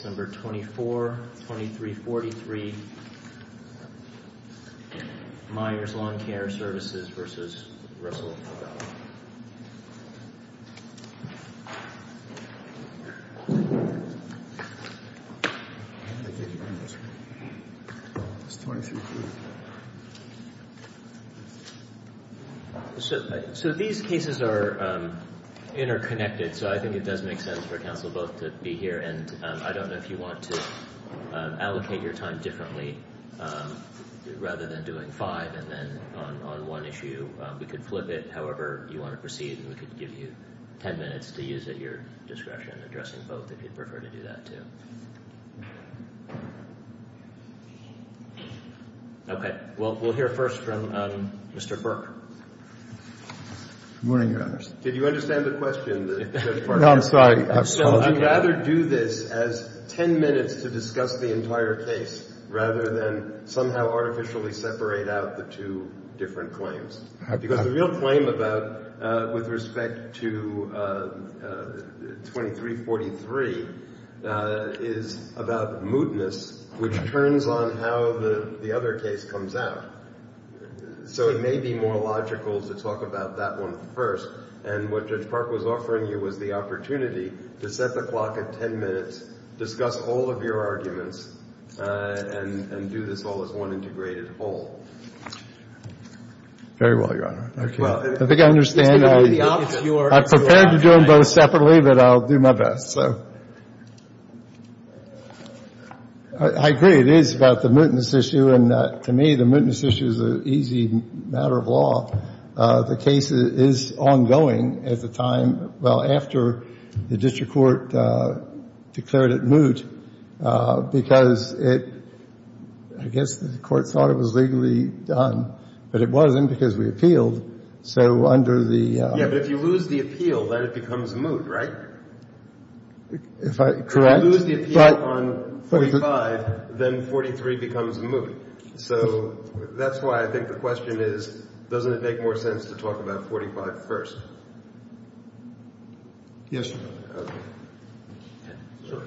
Case No. 24-2343, Myers Lawn Care Services v. Russell Fragala. So these cases are interconnected, so I think it does make sense for counsel both to be here, and I don't know if you want to allocate your time differently, rather than doing five and then on one issue, we could flip it. However, you want to proceed, and we could give you 10 minutes to use at your discretion, addressing both, if you'd prefer to do that, too. Okay, well, we'll hear first from Mr. Burke. Good morning, Your Honor. Did you understand the question? No, I'm sorry. So I'd rather do this as 10 minutes to discuss the entire case, rather than somehow artificially separate out the two different claims. Because the real claim with respect to 2343 is about mootness, which turns on how the other case comes out. So it may be more logical to talk about that one first. And what Judge Park was offering you was the opportunity to set the clock at 10 minutes, discuss all of your arguments, and do this all as one integrated whole. Very well, Your Honor. I think I understand. I'm prepared to do them both separately, but I'll do my best. I agree, it is about the mootness issue, and to me, the mootness issue is an easy matter of law. The case is ongoing at the time, well, after the district court declared it moot, because it – I guess the court thought it was legally done, but it wasn't because we appealed. So under the – Yeah, but if you lose the appeal, then it becomes moot, right? Correct. If you lose the appeal on 45, then 43 becomes moot. So that's why I think the question is, doesn't it make more sense to talk about 45 first? Yes, Your Honor. Okay.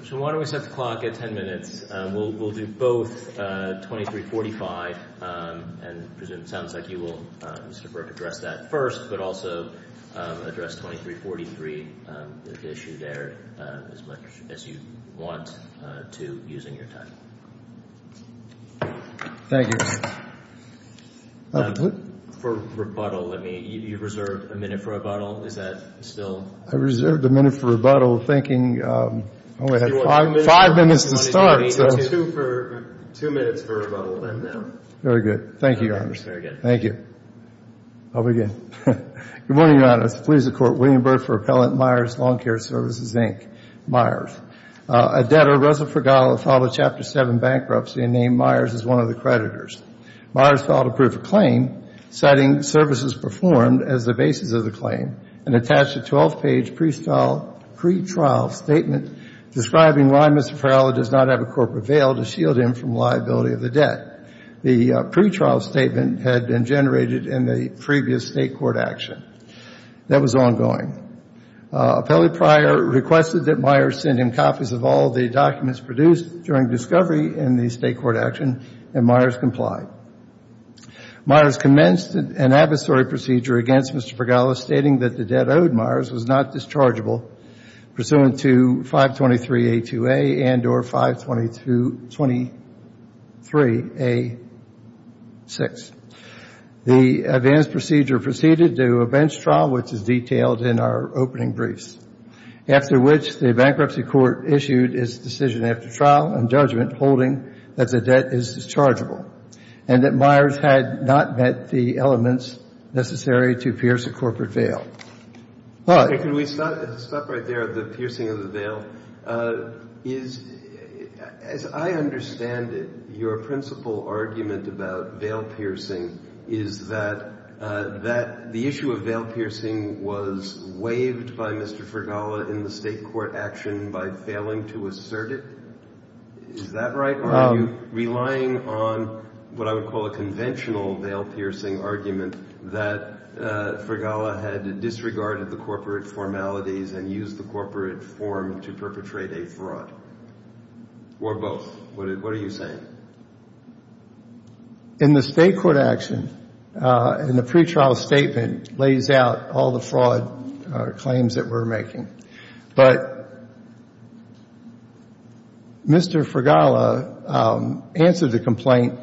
So why don't we set the clock at 10 minutes? We'll do both 2345, and it sounds like you will, Mr. Burke, address that first, but also address 2343, the issue there, as much as you want to, using your time. Thank you. For rebuttal, let me – you reserved a minute for rebuttal. Is that still – I reserved a minute for rebuttal, thinking I only had five minutes to start. Two minutes for rebuttal, then. Very good. Thank you, Your Honor. Thank you. I'll begin. Good morning, Your Honor. It is the pleas of the Court, William Burke for Appellant Myers, Lawn Care Services, Inc., Myers. A debtor, Russell Fregala, filed a Chapter 7 bankruptcy and named Myers as one of the creditors. Myers filed a proof of claim, citing services performed as the basis of the claim, and attached a 12-page pretrial statement describing why Mr. Fregala does not have a corporate veil to shield him from liability of the debt. The pretrial statement had been generated in the previous state court action. That was ongoing. Appellate Pryor requested that Myers send him copies of all the documents produced during discovery in the state court action, and Myers complied. Myers commenced an adversary procedure against Mr. Fregala, stating that the debt owed Myers was not dischargeable pursuant to 523A2A and or 523A6. The advanced procedure proceeded to a bench trial, which is detailed in our opening briefs, after which the bankruptcy court issued its decision after trial and judgment, holding that the debt is dischargeable and that Myers had not met the elements necessary to pierce a corporate veil. All right. Can we stop right there at the piercing of the veil? As I understand it, your principal argument about veil piercing is that the issue of veil piercing was waived by Mr. Fregala in the state court action by failing to assert it. Is that right? Are you relying on what I would call a conventional veil piercing argument that Fregala had disregarded the corporate formalities and used the corporate form to perpetrate a fraud or both? What are you saying? In the state court action, in the pretrial statement, it lays out all the fraud claims that we're making. But Mr. Fregala answered the complaint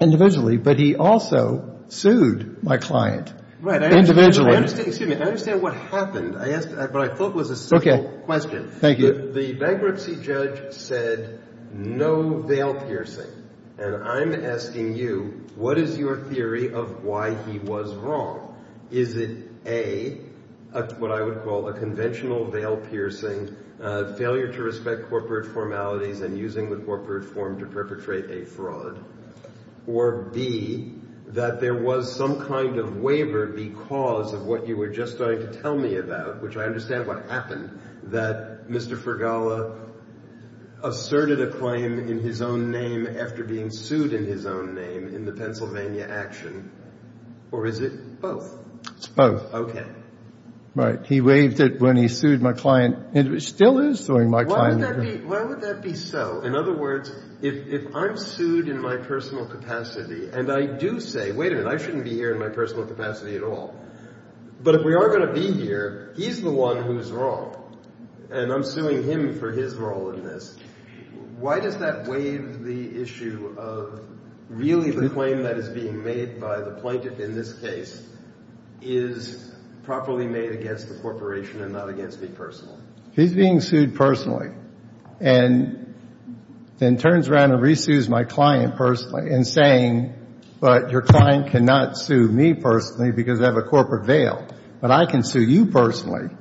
individually, but he also sued my client individually. Excuse me. I understand what happened, but I thought it was a simple question. Thank you. The bankruptcy judge said no veil piercing, and I'm asking you what is your theory of why he was wrong? Is it A, what I would call a conventional veil piercing, failure to respect corporate formalities and using the corporate form to perpetrate a fraud, or B, that there was some kind of waiver because of what you were just going to tell me about, which I understand what happened, that Mr. Fregala asserted a claim in his own name after being sued in his own name in the Pennsylvania action, or is it both? It's both. Okay. Right. He waived it when he sued my client, and still is suing my client. Why would that be so? In other words, if I'm sued in my personal capacity, and I do say, wait a minute, I shouldn't be here in my personal capacity at all, but if we are going to be here, he's the one who's wrong, and I'm suing him for his role in this. Why does that waive the issue of really the claim that is being made by the plaintiff in this case is properly made against the corporation and not against me personally? He's being sued personally and then turns around and resues my client personally and saying, but your client cannot sue me personally because I have a corporate veil, but I can sue you personally.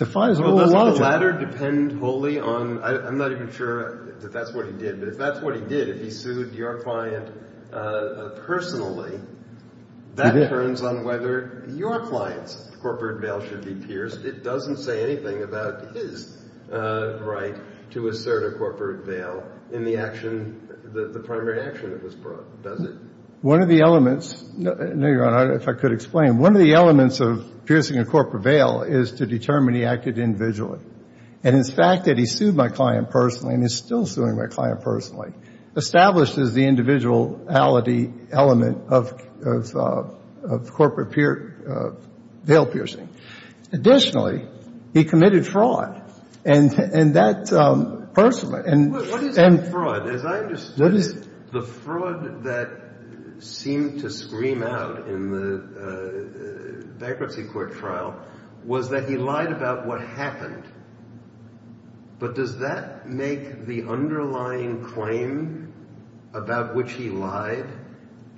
Well, doesn't the latter depend wholly on – I'm not even sure that that's what he did, but if that's what he did, if he sued your client personally, that turns on whether your client's corporate veil should be pierced. It doesn't say anything about his right to assert a corporate veil in the action, the primary action that was brought, does it? One of the elements – no, Your Honor, if I could explain. One of the elements of piercing a corporate veil is to determine he acted individually, and his fact that he sued my client personally and is still suing my client personally establishes the individuality element of corporate veil piercing. Additionally, he committed fraud, and that personally – What is fraud? As I understood it, the fraud that seemed to scream out in the bankruptcy court trial was that he lied about what happened. But does that make the underlying claim about which he lied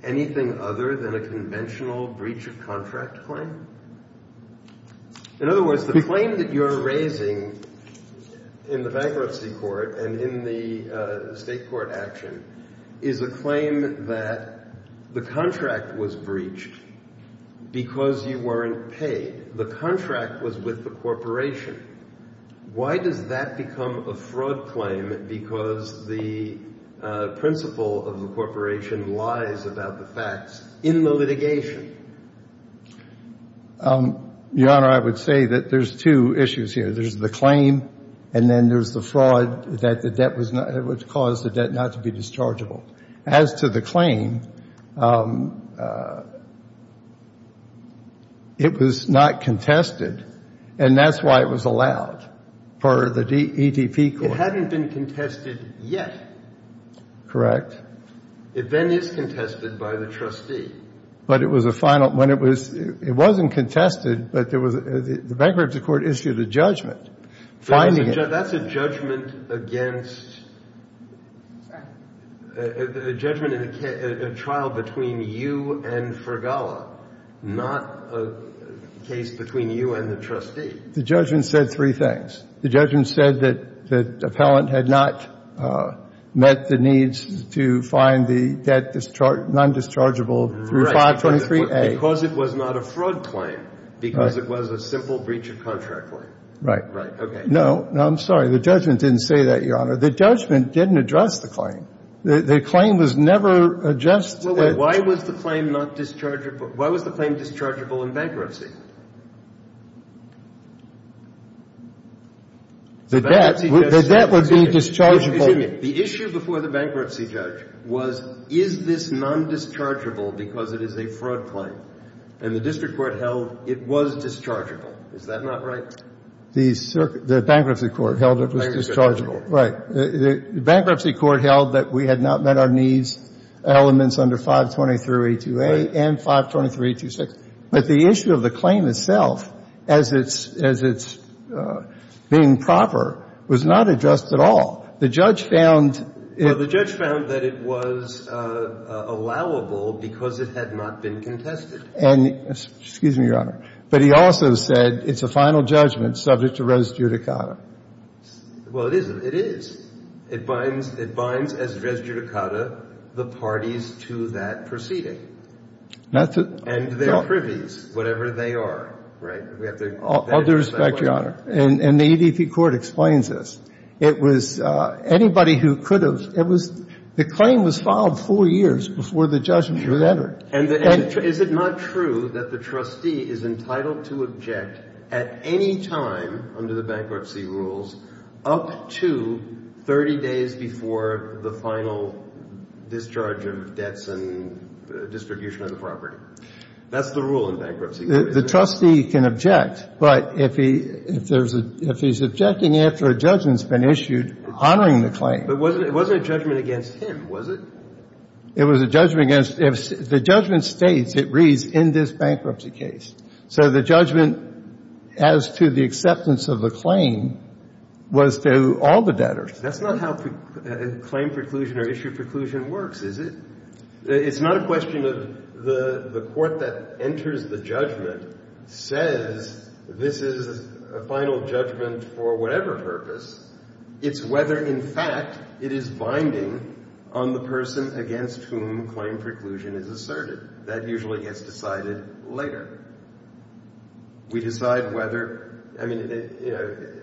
anything other than a conventional breach of contract claim? In other words, the claim that you're raising in the bankruptcy court and in the state court action is a claim that the contract was breached because you weren't paid. The contract was with the corporation. Why does that become a fraud claim because the principle of the corporation lies about the facts in the litigation? Your Honor, I would say that there's two issues here. There's the claim, and then there's the fraud that caused the debt not to be dischargeable. As to the claim, it was not contested, and that's why it was allowed for the ETP court. It hadn't been contested yet. Correct. It then is contested by the trustee. But it was a final – when it was – it wasn't contested, but there was – the bankruptcy court issued a judgment finding it. That's a judgment against – a judgment in a trial between you and Fergala, not a case between you and the trustee. The judgment said three things. The judgment said that the appellant had not met the needs to find the debt non-dischargeable through 523A. Right, because it was not a fraud claim, because it was a simple breach of contract claim. Right. Right, okay. No, no, I'm sorry. The judgment didn't say that, Your Honor. The judgment didn't address the claim. The claim was never addressed. Why was the claim not dischargeable – why was the claim dischargeable in bankruptcy? The debt would be dischargeable. Excuse me. The issue before the bankruptcy judge was, is this non-dischargeable because it is a fraud claim? And the district court held it was dischargeable. Is that not right? The bankruptcy court held it was dischargeable. Right. The bankruptcy court held that we had not met our needs, elements under 523A2A and 523A26. But the issue of the claim itself as its being proper was not addressed at all. The judge found – Well, the judge found that it was allowable because it had not been contested. Excuse me, Your Honor. But he also said it's a final judgment subject to res judicata. Well, it is. It is. It binds as res judicata the parties to that proceeding. And their privies, whatever they are. We have to – All due respect, Your Honor. And the EDP court explains this. It was – anybody who could have – it was – the claim was filed four years before the judgment was entered. And is it not true that the trustee is entitled to object at any time under the bankruptcy rules up to 30 days before the final discharge of debts and distribution of the property? That's the rule in bankruptcy. The trustee can object. But if he's objecting after a judgment's been issued, honoring the claim. But it wasn't a judgment against him, was it? It was a judgment against – the judgment states, it reads, in this bankruptcy case. So the judgment as to the acceptance of the claim was to all the debtors. That's not how claim preclusion or issue preclusion works, is it? It's not a question of the court that enters the judgment says this is a final judgment for whatever purpose. It's whether, in fact, it is binding on the person against whom claim preclusion is asserted. That usually gets decided later. We decide whether – I mean, you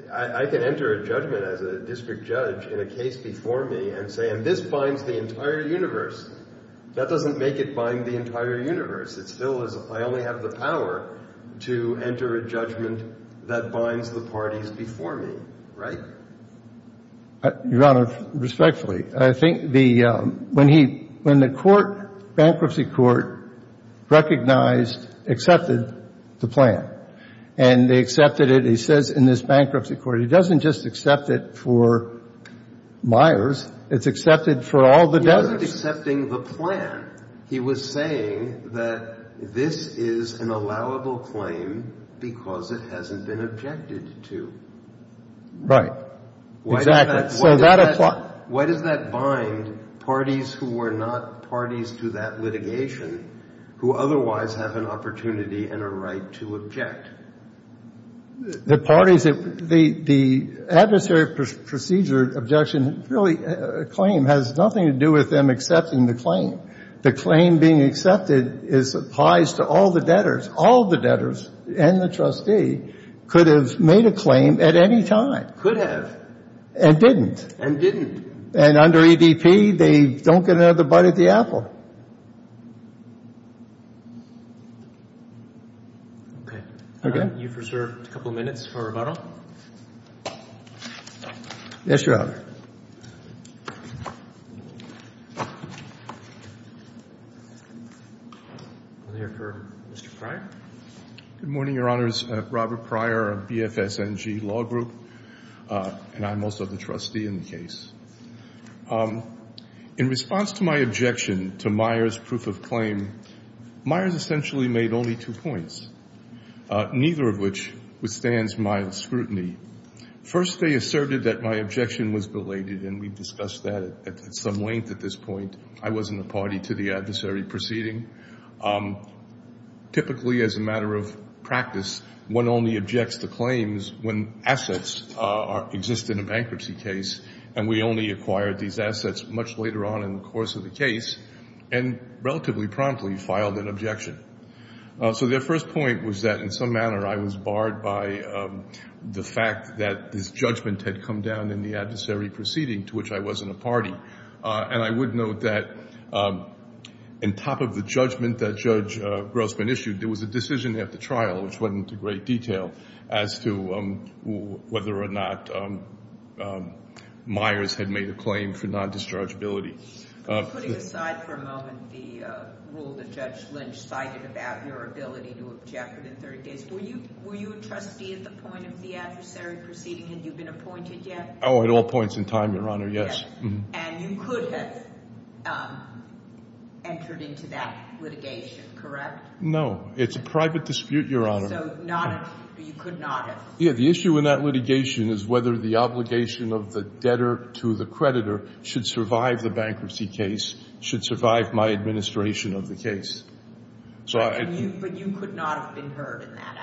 know, I can enter a judgment as a district judge in a case before me and say, and this binds the entire universe. That doesn't make it bind the entire universe. It still is I only have the power to enter a judgment that binds the parties before me, right? Your Honor, respectfully. I think the – when he – when the court, bankruptcy court, recognized, accepted the plan, and they accepted it, he says in this bankruptcy court he doesn't just accept it for Myers, it's accepted for all the debtors. He wasn't accepting the plan. He was saying that this is an allowable claim because it hasn't been objected to. Right. Exactly. Why does that bind parties who were not parties to that litigation who otherwise have an opportunity and a right to object? The parties – the adversary procedure objection really – claim has nothing to do with them accepting the claim. The claim being accepted applies to all the debtors. All the debtors and the trustee could have made a claim at any time. Could have. And didn't. And didn't. And under EDP they don't get another bite of the apple. Okay. Okay. You've reserved a couple minutes for rebuttal. Yes, Your Honor. We'll hear from Mr. Pryor. Good morning, Your Honors. Robert Pryor of BFSNG Law Group, and I'm also the trustee in the case. In response to my objection to Myers' proof of claim, Myers essentially made only two points, neither of which withstands my scrutiny. First, they asserted that my objection was belated, and we've discussed that at some length at this point. I wasn't a party to the adversary proceeding. Typically, as a matter of practice, one only objects to claims when assets exist in a bankruptcy case, and we only acquired these assets much later on in the course of the case and relatively promptly filed an objection. So their first point was that in some manner I was barred by the fact that this judgment had come down in the adversary proceeding, to which I wasn't a party. And I would note that in top of the judgment that Judge Grossman issued, there was a decision at the trial, which went into great detail, as to whether or not Myers had made a claim for non-dischargeability. Putting aside for a moment the rule that Judge Lynch cited about your ability to object within 30 days, were you a trustee at the point of the adversary proceeding? Had you been appointed yet? Oh, at all points in time, Your Honor, yes. And you could have entered into that litigation, correct? No. It's a private dispute, Your Honor. So you could not have? Yeah. The issue in that litigation is whether the obligation of the debtor to the creditor should survive the bankruptcy case, should survive my administration of the case. But you could not have been heard in that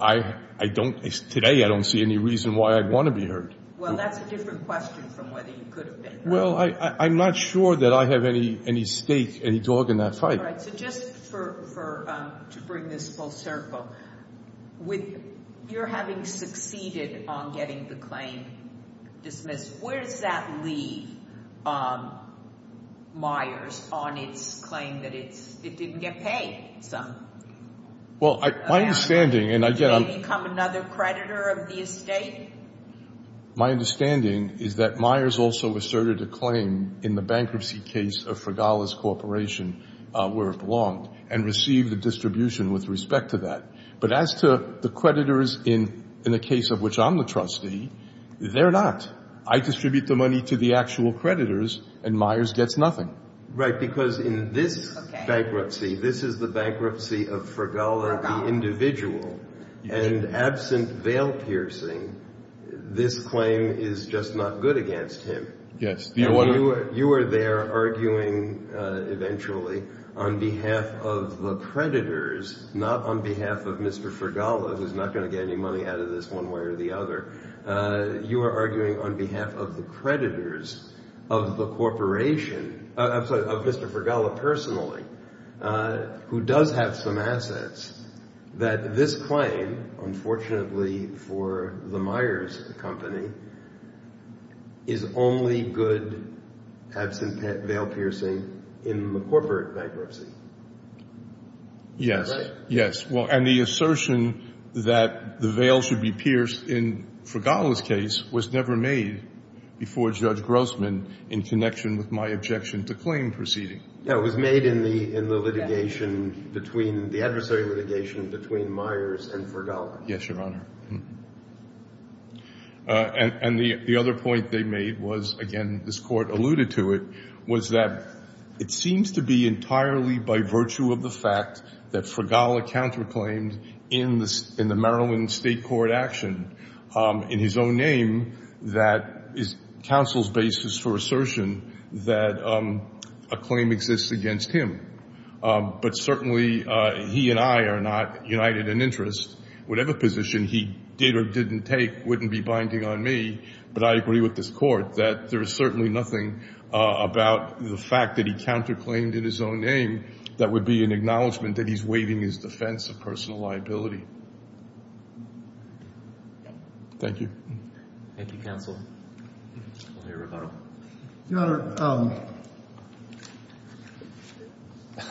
action? Today I don't see any reason why I'd want to be heard. Well, that's a different question from whether you could have been heard. Well, I'm not sure that I have any stake, any dog in that fight. All right. So just to bring this full circle, with your having succeeded on getting the claim dismissed, where does that leave Myers on its claim that it didn't get paid some? Well, my understanding, and I get it. Did it become another creditor of the estate? My understanding is that Myers also asserted a claim in the bankruptcy case of Fregales Corporation, where it belonged, and received the distribution with respect to that. But as to the creditors in the case of which I'm the trustee, they're not. I distribute the money to the actual creditors, and Myers gets nothing. Right, because in this bankruptcy, this is the bankruptcy of Fregales, the individual. And absent veil-piercing, this claim is just not good against him. Yes. And you are there arguing eventually on behalf of the creditors, not on behalf of Mr. Fregales, who's not going to get any money out of this one way or the other. You are arguing on behalf of the creditors of the corporation, of Mr. Fregales personally, who does have some assets, that this claim, unfortunately for the Myers Company, is only good absent veil-piercing in the corporate bankruptcy. Yes. Right? Yes. And the assertion that the veil should be pierced in Fregales' case was never made before Judge Grossman in connection with my objection to claim proceeding. No, it was made in the litigation between the adversary litigation between Myers and Fregales. Yes, Your Honor. And the other point they made was, again, this Court alluded to it, was that it seems to be entirely by virtue of the fact that Fregales counterclaimed in the Maryland State Court action, in his own name, that is counsel's basis for assertion that a claim exists against him. But certainly he and I are not united in interest. Whatever position he did or didn't take wouldn't be binding on me, but I agree with this Court that there is certainly nothing about the fact that he counterclaimed in his own name that would be an acknowledgment that he's waiving his defense of personal liability. Thank you. Thank you, counsel. I'll hear a rebuttal. Your Honor,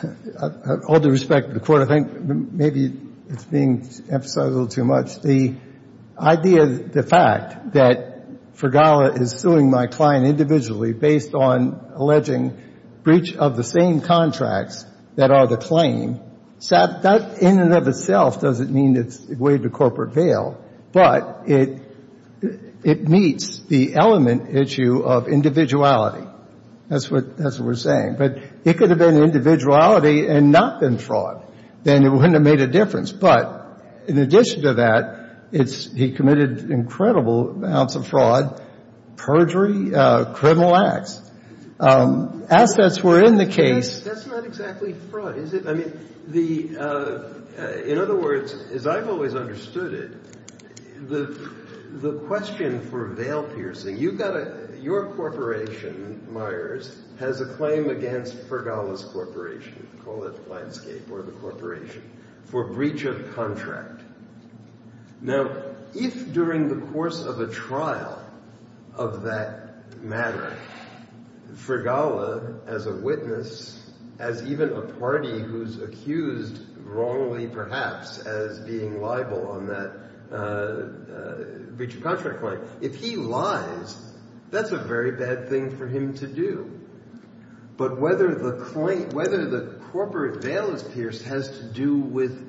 with all due respect to the Court, I think maybe it's being emphasized a little too much. The idea, the fact that Fregales is suing my client individually based on alleging breach of the same contracts that are the claim, that in and of itself doesn't mean it's waived a corporate bail, but it meets the element issue of individuality. That's what we're saying. But it could have been individuality and not been fraud. Then it wouldn't have made a difference. But in addition to that, it's he committed incredible amounts of fraud, perjury, criminal acts. Assets were in the case. That's not exactly fraud, is it? I mean, the — in other words, as I've always understood it, the question for bail piercing, you've got to — your corporation, Myers, has a claim against Fregales Corporation. Call it the landscape or the corporation for breach of contract. Now, if during the course of a trial of that matter, Fregales, as a witness, as even a party who's accused wrongly perhaps as being liable on that breach of contract claim, if he lies, that's a very bad thing for him to do. But whether the corporate bail is pierced has to do with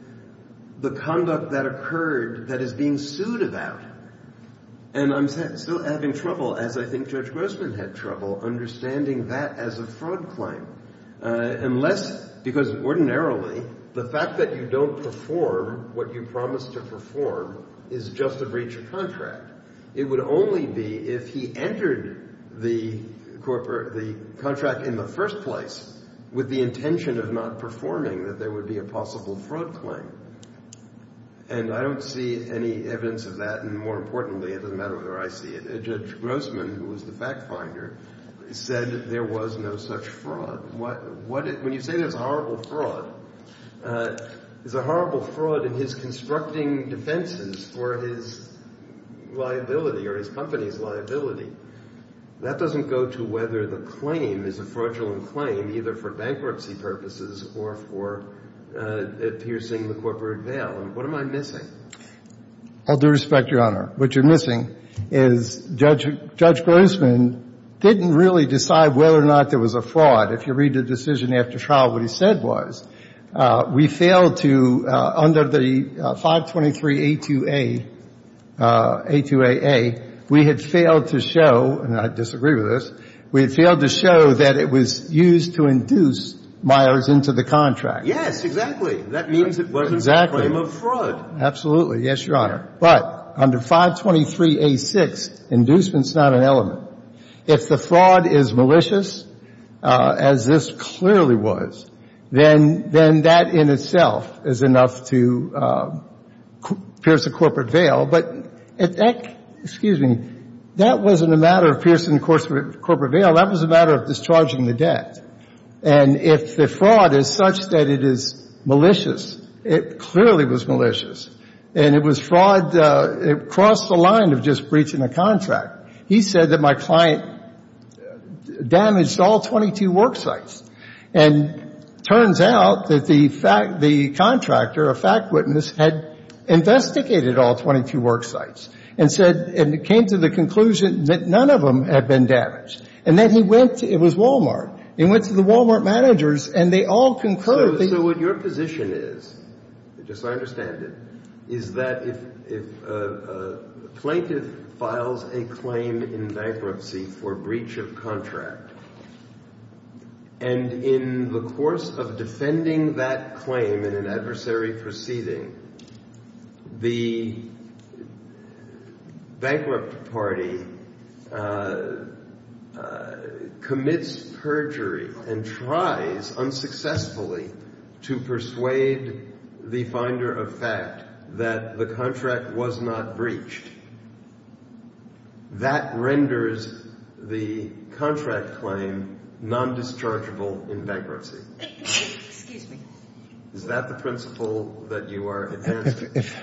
the conduct that occurred that is being sued about. And I'm still having trouble, as I think Judge Grossman had trouble, understanding that as a fraud claim. Unless — because ordinarily, the fact that you don't perform what you promised to perform is just a breach of contract. It would only be if he entered the contract in the first place with the intention of not performing that there would be a possible fraud claim. And I don't see any evidence of that. And more importantly, it doesn't matter whether I see it, Judge Grossman, who was the fact-finder, said there was no such fraud. When you say there's a horrible fraud, there's a horrible fraud in his constructing defenses for his liability or his company's liability. That doesn't go to whether the claim is a fraudulent claim either for bankruptcy purposes or for piercing the corporate bail. And what am I missing? I'll do respect, Your Honor. What you're missing is Judge Grossman didn't really decide whether or not there was a fraud. If you read the decision after trial, what he said was, we failed to — under the 523A2A, A2AA, we had failed to show — and I disagree with this — we had failed to show that it was used to induce Myers into the contract. Yes, exactly. That means it wasn't a claim of fraud. Absolutely. Yes, Your Honor. But under 523A6, inducement's not an element. If the fraud is malicious, as this clearly was, then that in itself is enough to pierce a corporate bail. But that — excuse me — that wasn't a matter of piercing the corporate bail. That was a matter of discharging the debt. And if the fraud is such that it is malicious, it clearly was malicious. And it was fraud across the line of just breaching a contract. He said that my client damaged all 22 worksites. And it turns out that the contractor, a fact witness, had investigated all 22 worksites and said — and came to the conclusion that none of them had been damaged. And then he went — it was Walmart. He went to the Walmart managers, and they all concurred. So what your position is, just so I understand it, is that if a plaintiff files a claim in bankruptcy for breach of contract, and in the course of defending that claim in an adversary proceeding, the bankrupt party commits perjury and tries unsuccessfully to persuade the finder of fact that the contract was not breached, that renders the contract claim non-dischargeable in bankruptcy. Excuse me. Is that the principle that you are advancing? If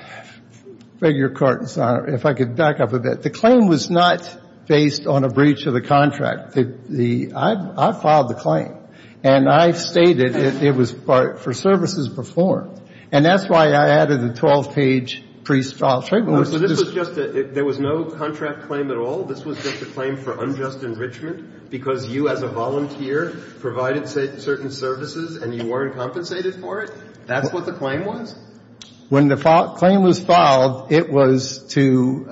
I could back up a bit. The claim was not based on a breach of the contract. I filed the claim. And I stated it was for services performed. And that's why I added a 12-page pre-filed statement. So this was just a — there was no contract claim at all? This was just a claim for unjust enrichment because you as a volunteer provided certain services and you weren't compensated for it? That's what the claim was? When the claim was filed, it was to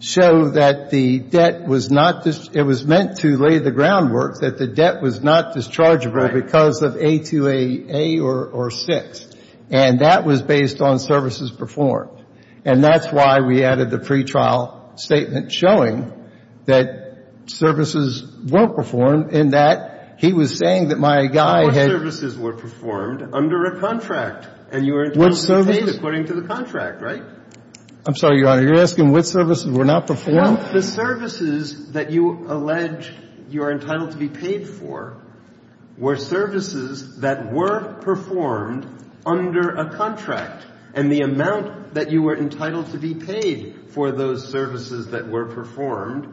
show that the debt was not — it was meant to lay the groundwork that the debt was not dischargeable because of A2AA or 6. And that was based on services performed. And that's why we added the pre-trial statement showing that services were performed, and that he was saying that my guy had — No more services were performed under a contract. And you were entitled to be paid according to the contract, right? I'm sorry, Your Honor. You're asking what services were not performed? Well, the services that you allege you are entitled to be paid for were services that were performed under a contract. And the amount that you were entitled to be paid for those services that were performed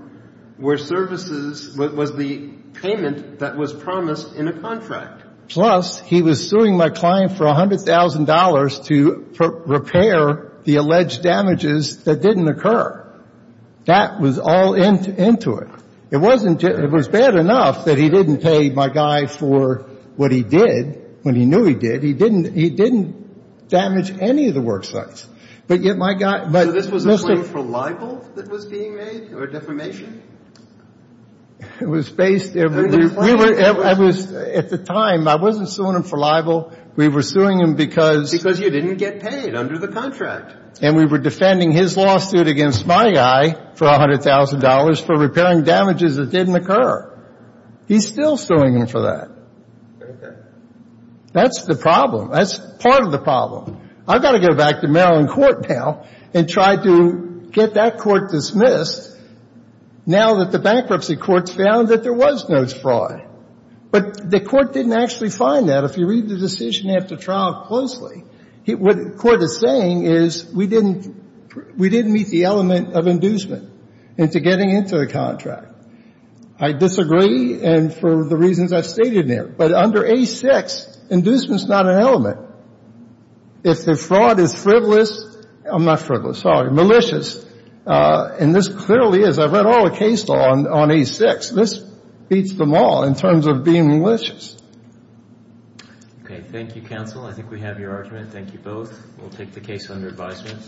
were services — was the payment that was promised in a contract. Plus, he was suing my client for $100,000 to repair the alleged damages that didn't occur. That was all into it. It wasn't — it was bad enough that he didn't pay my guy for what he did when he knew he did. He didn't — he didn't damage any of the worksites. But yet my guy — So this was a claim for libel that was being made or defamation? It was based — At the time, I wasn't suing him for libel. We were suing him because — Because you didn't get paid under the contract. And we were defending his lawsuit against my guy for $100,000 for repairing damages that didn't occur. He's still suing him for that. Okay. That's the problem. That's part of the problem. I've got to go back to Maryland court now and try to get that court dismissed now that the bankruptcy courts found that there was notes fraud. But the court didn't actually find that. If you read the decision after trial closely, what the court is saying is we didn't — we didn't meet the element of inducement into getting into the contract. I disagree, and for the reasons I've stated there. But under A-6, inducement is not an element. If the fraud is frivolous — I'm not frivolous, sorry — malicious, and this clearly is. I've read all the cases on A-6. This beats them all in terms of being malicious. Okay. Thank you, counsel. I think we have your argument. Thank you both. We'll take the case under advisement.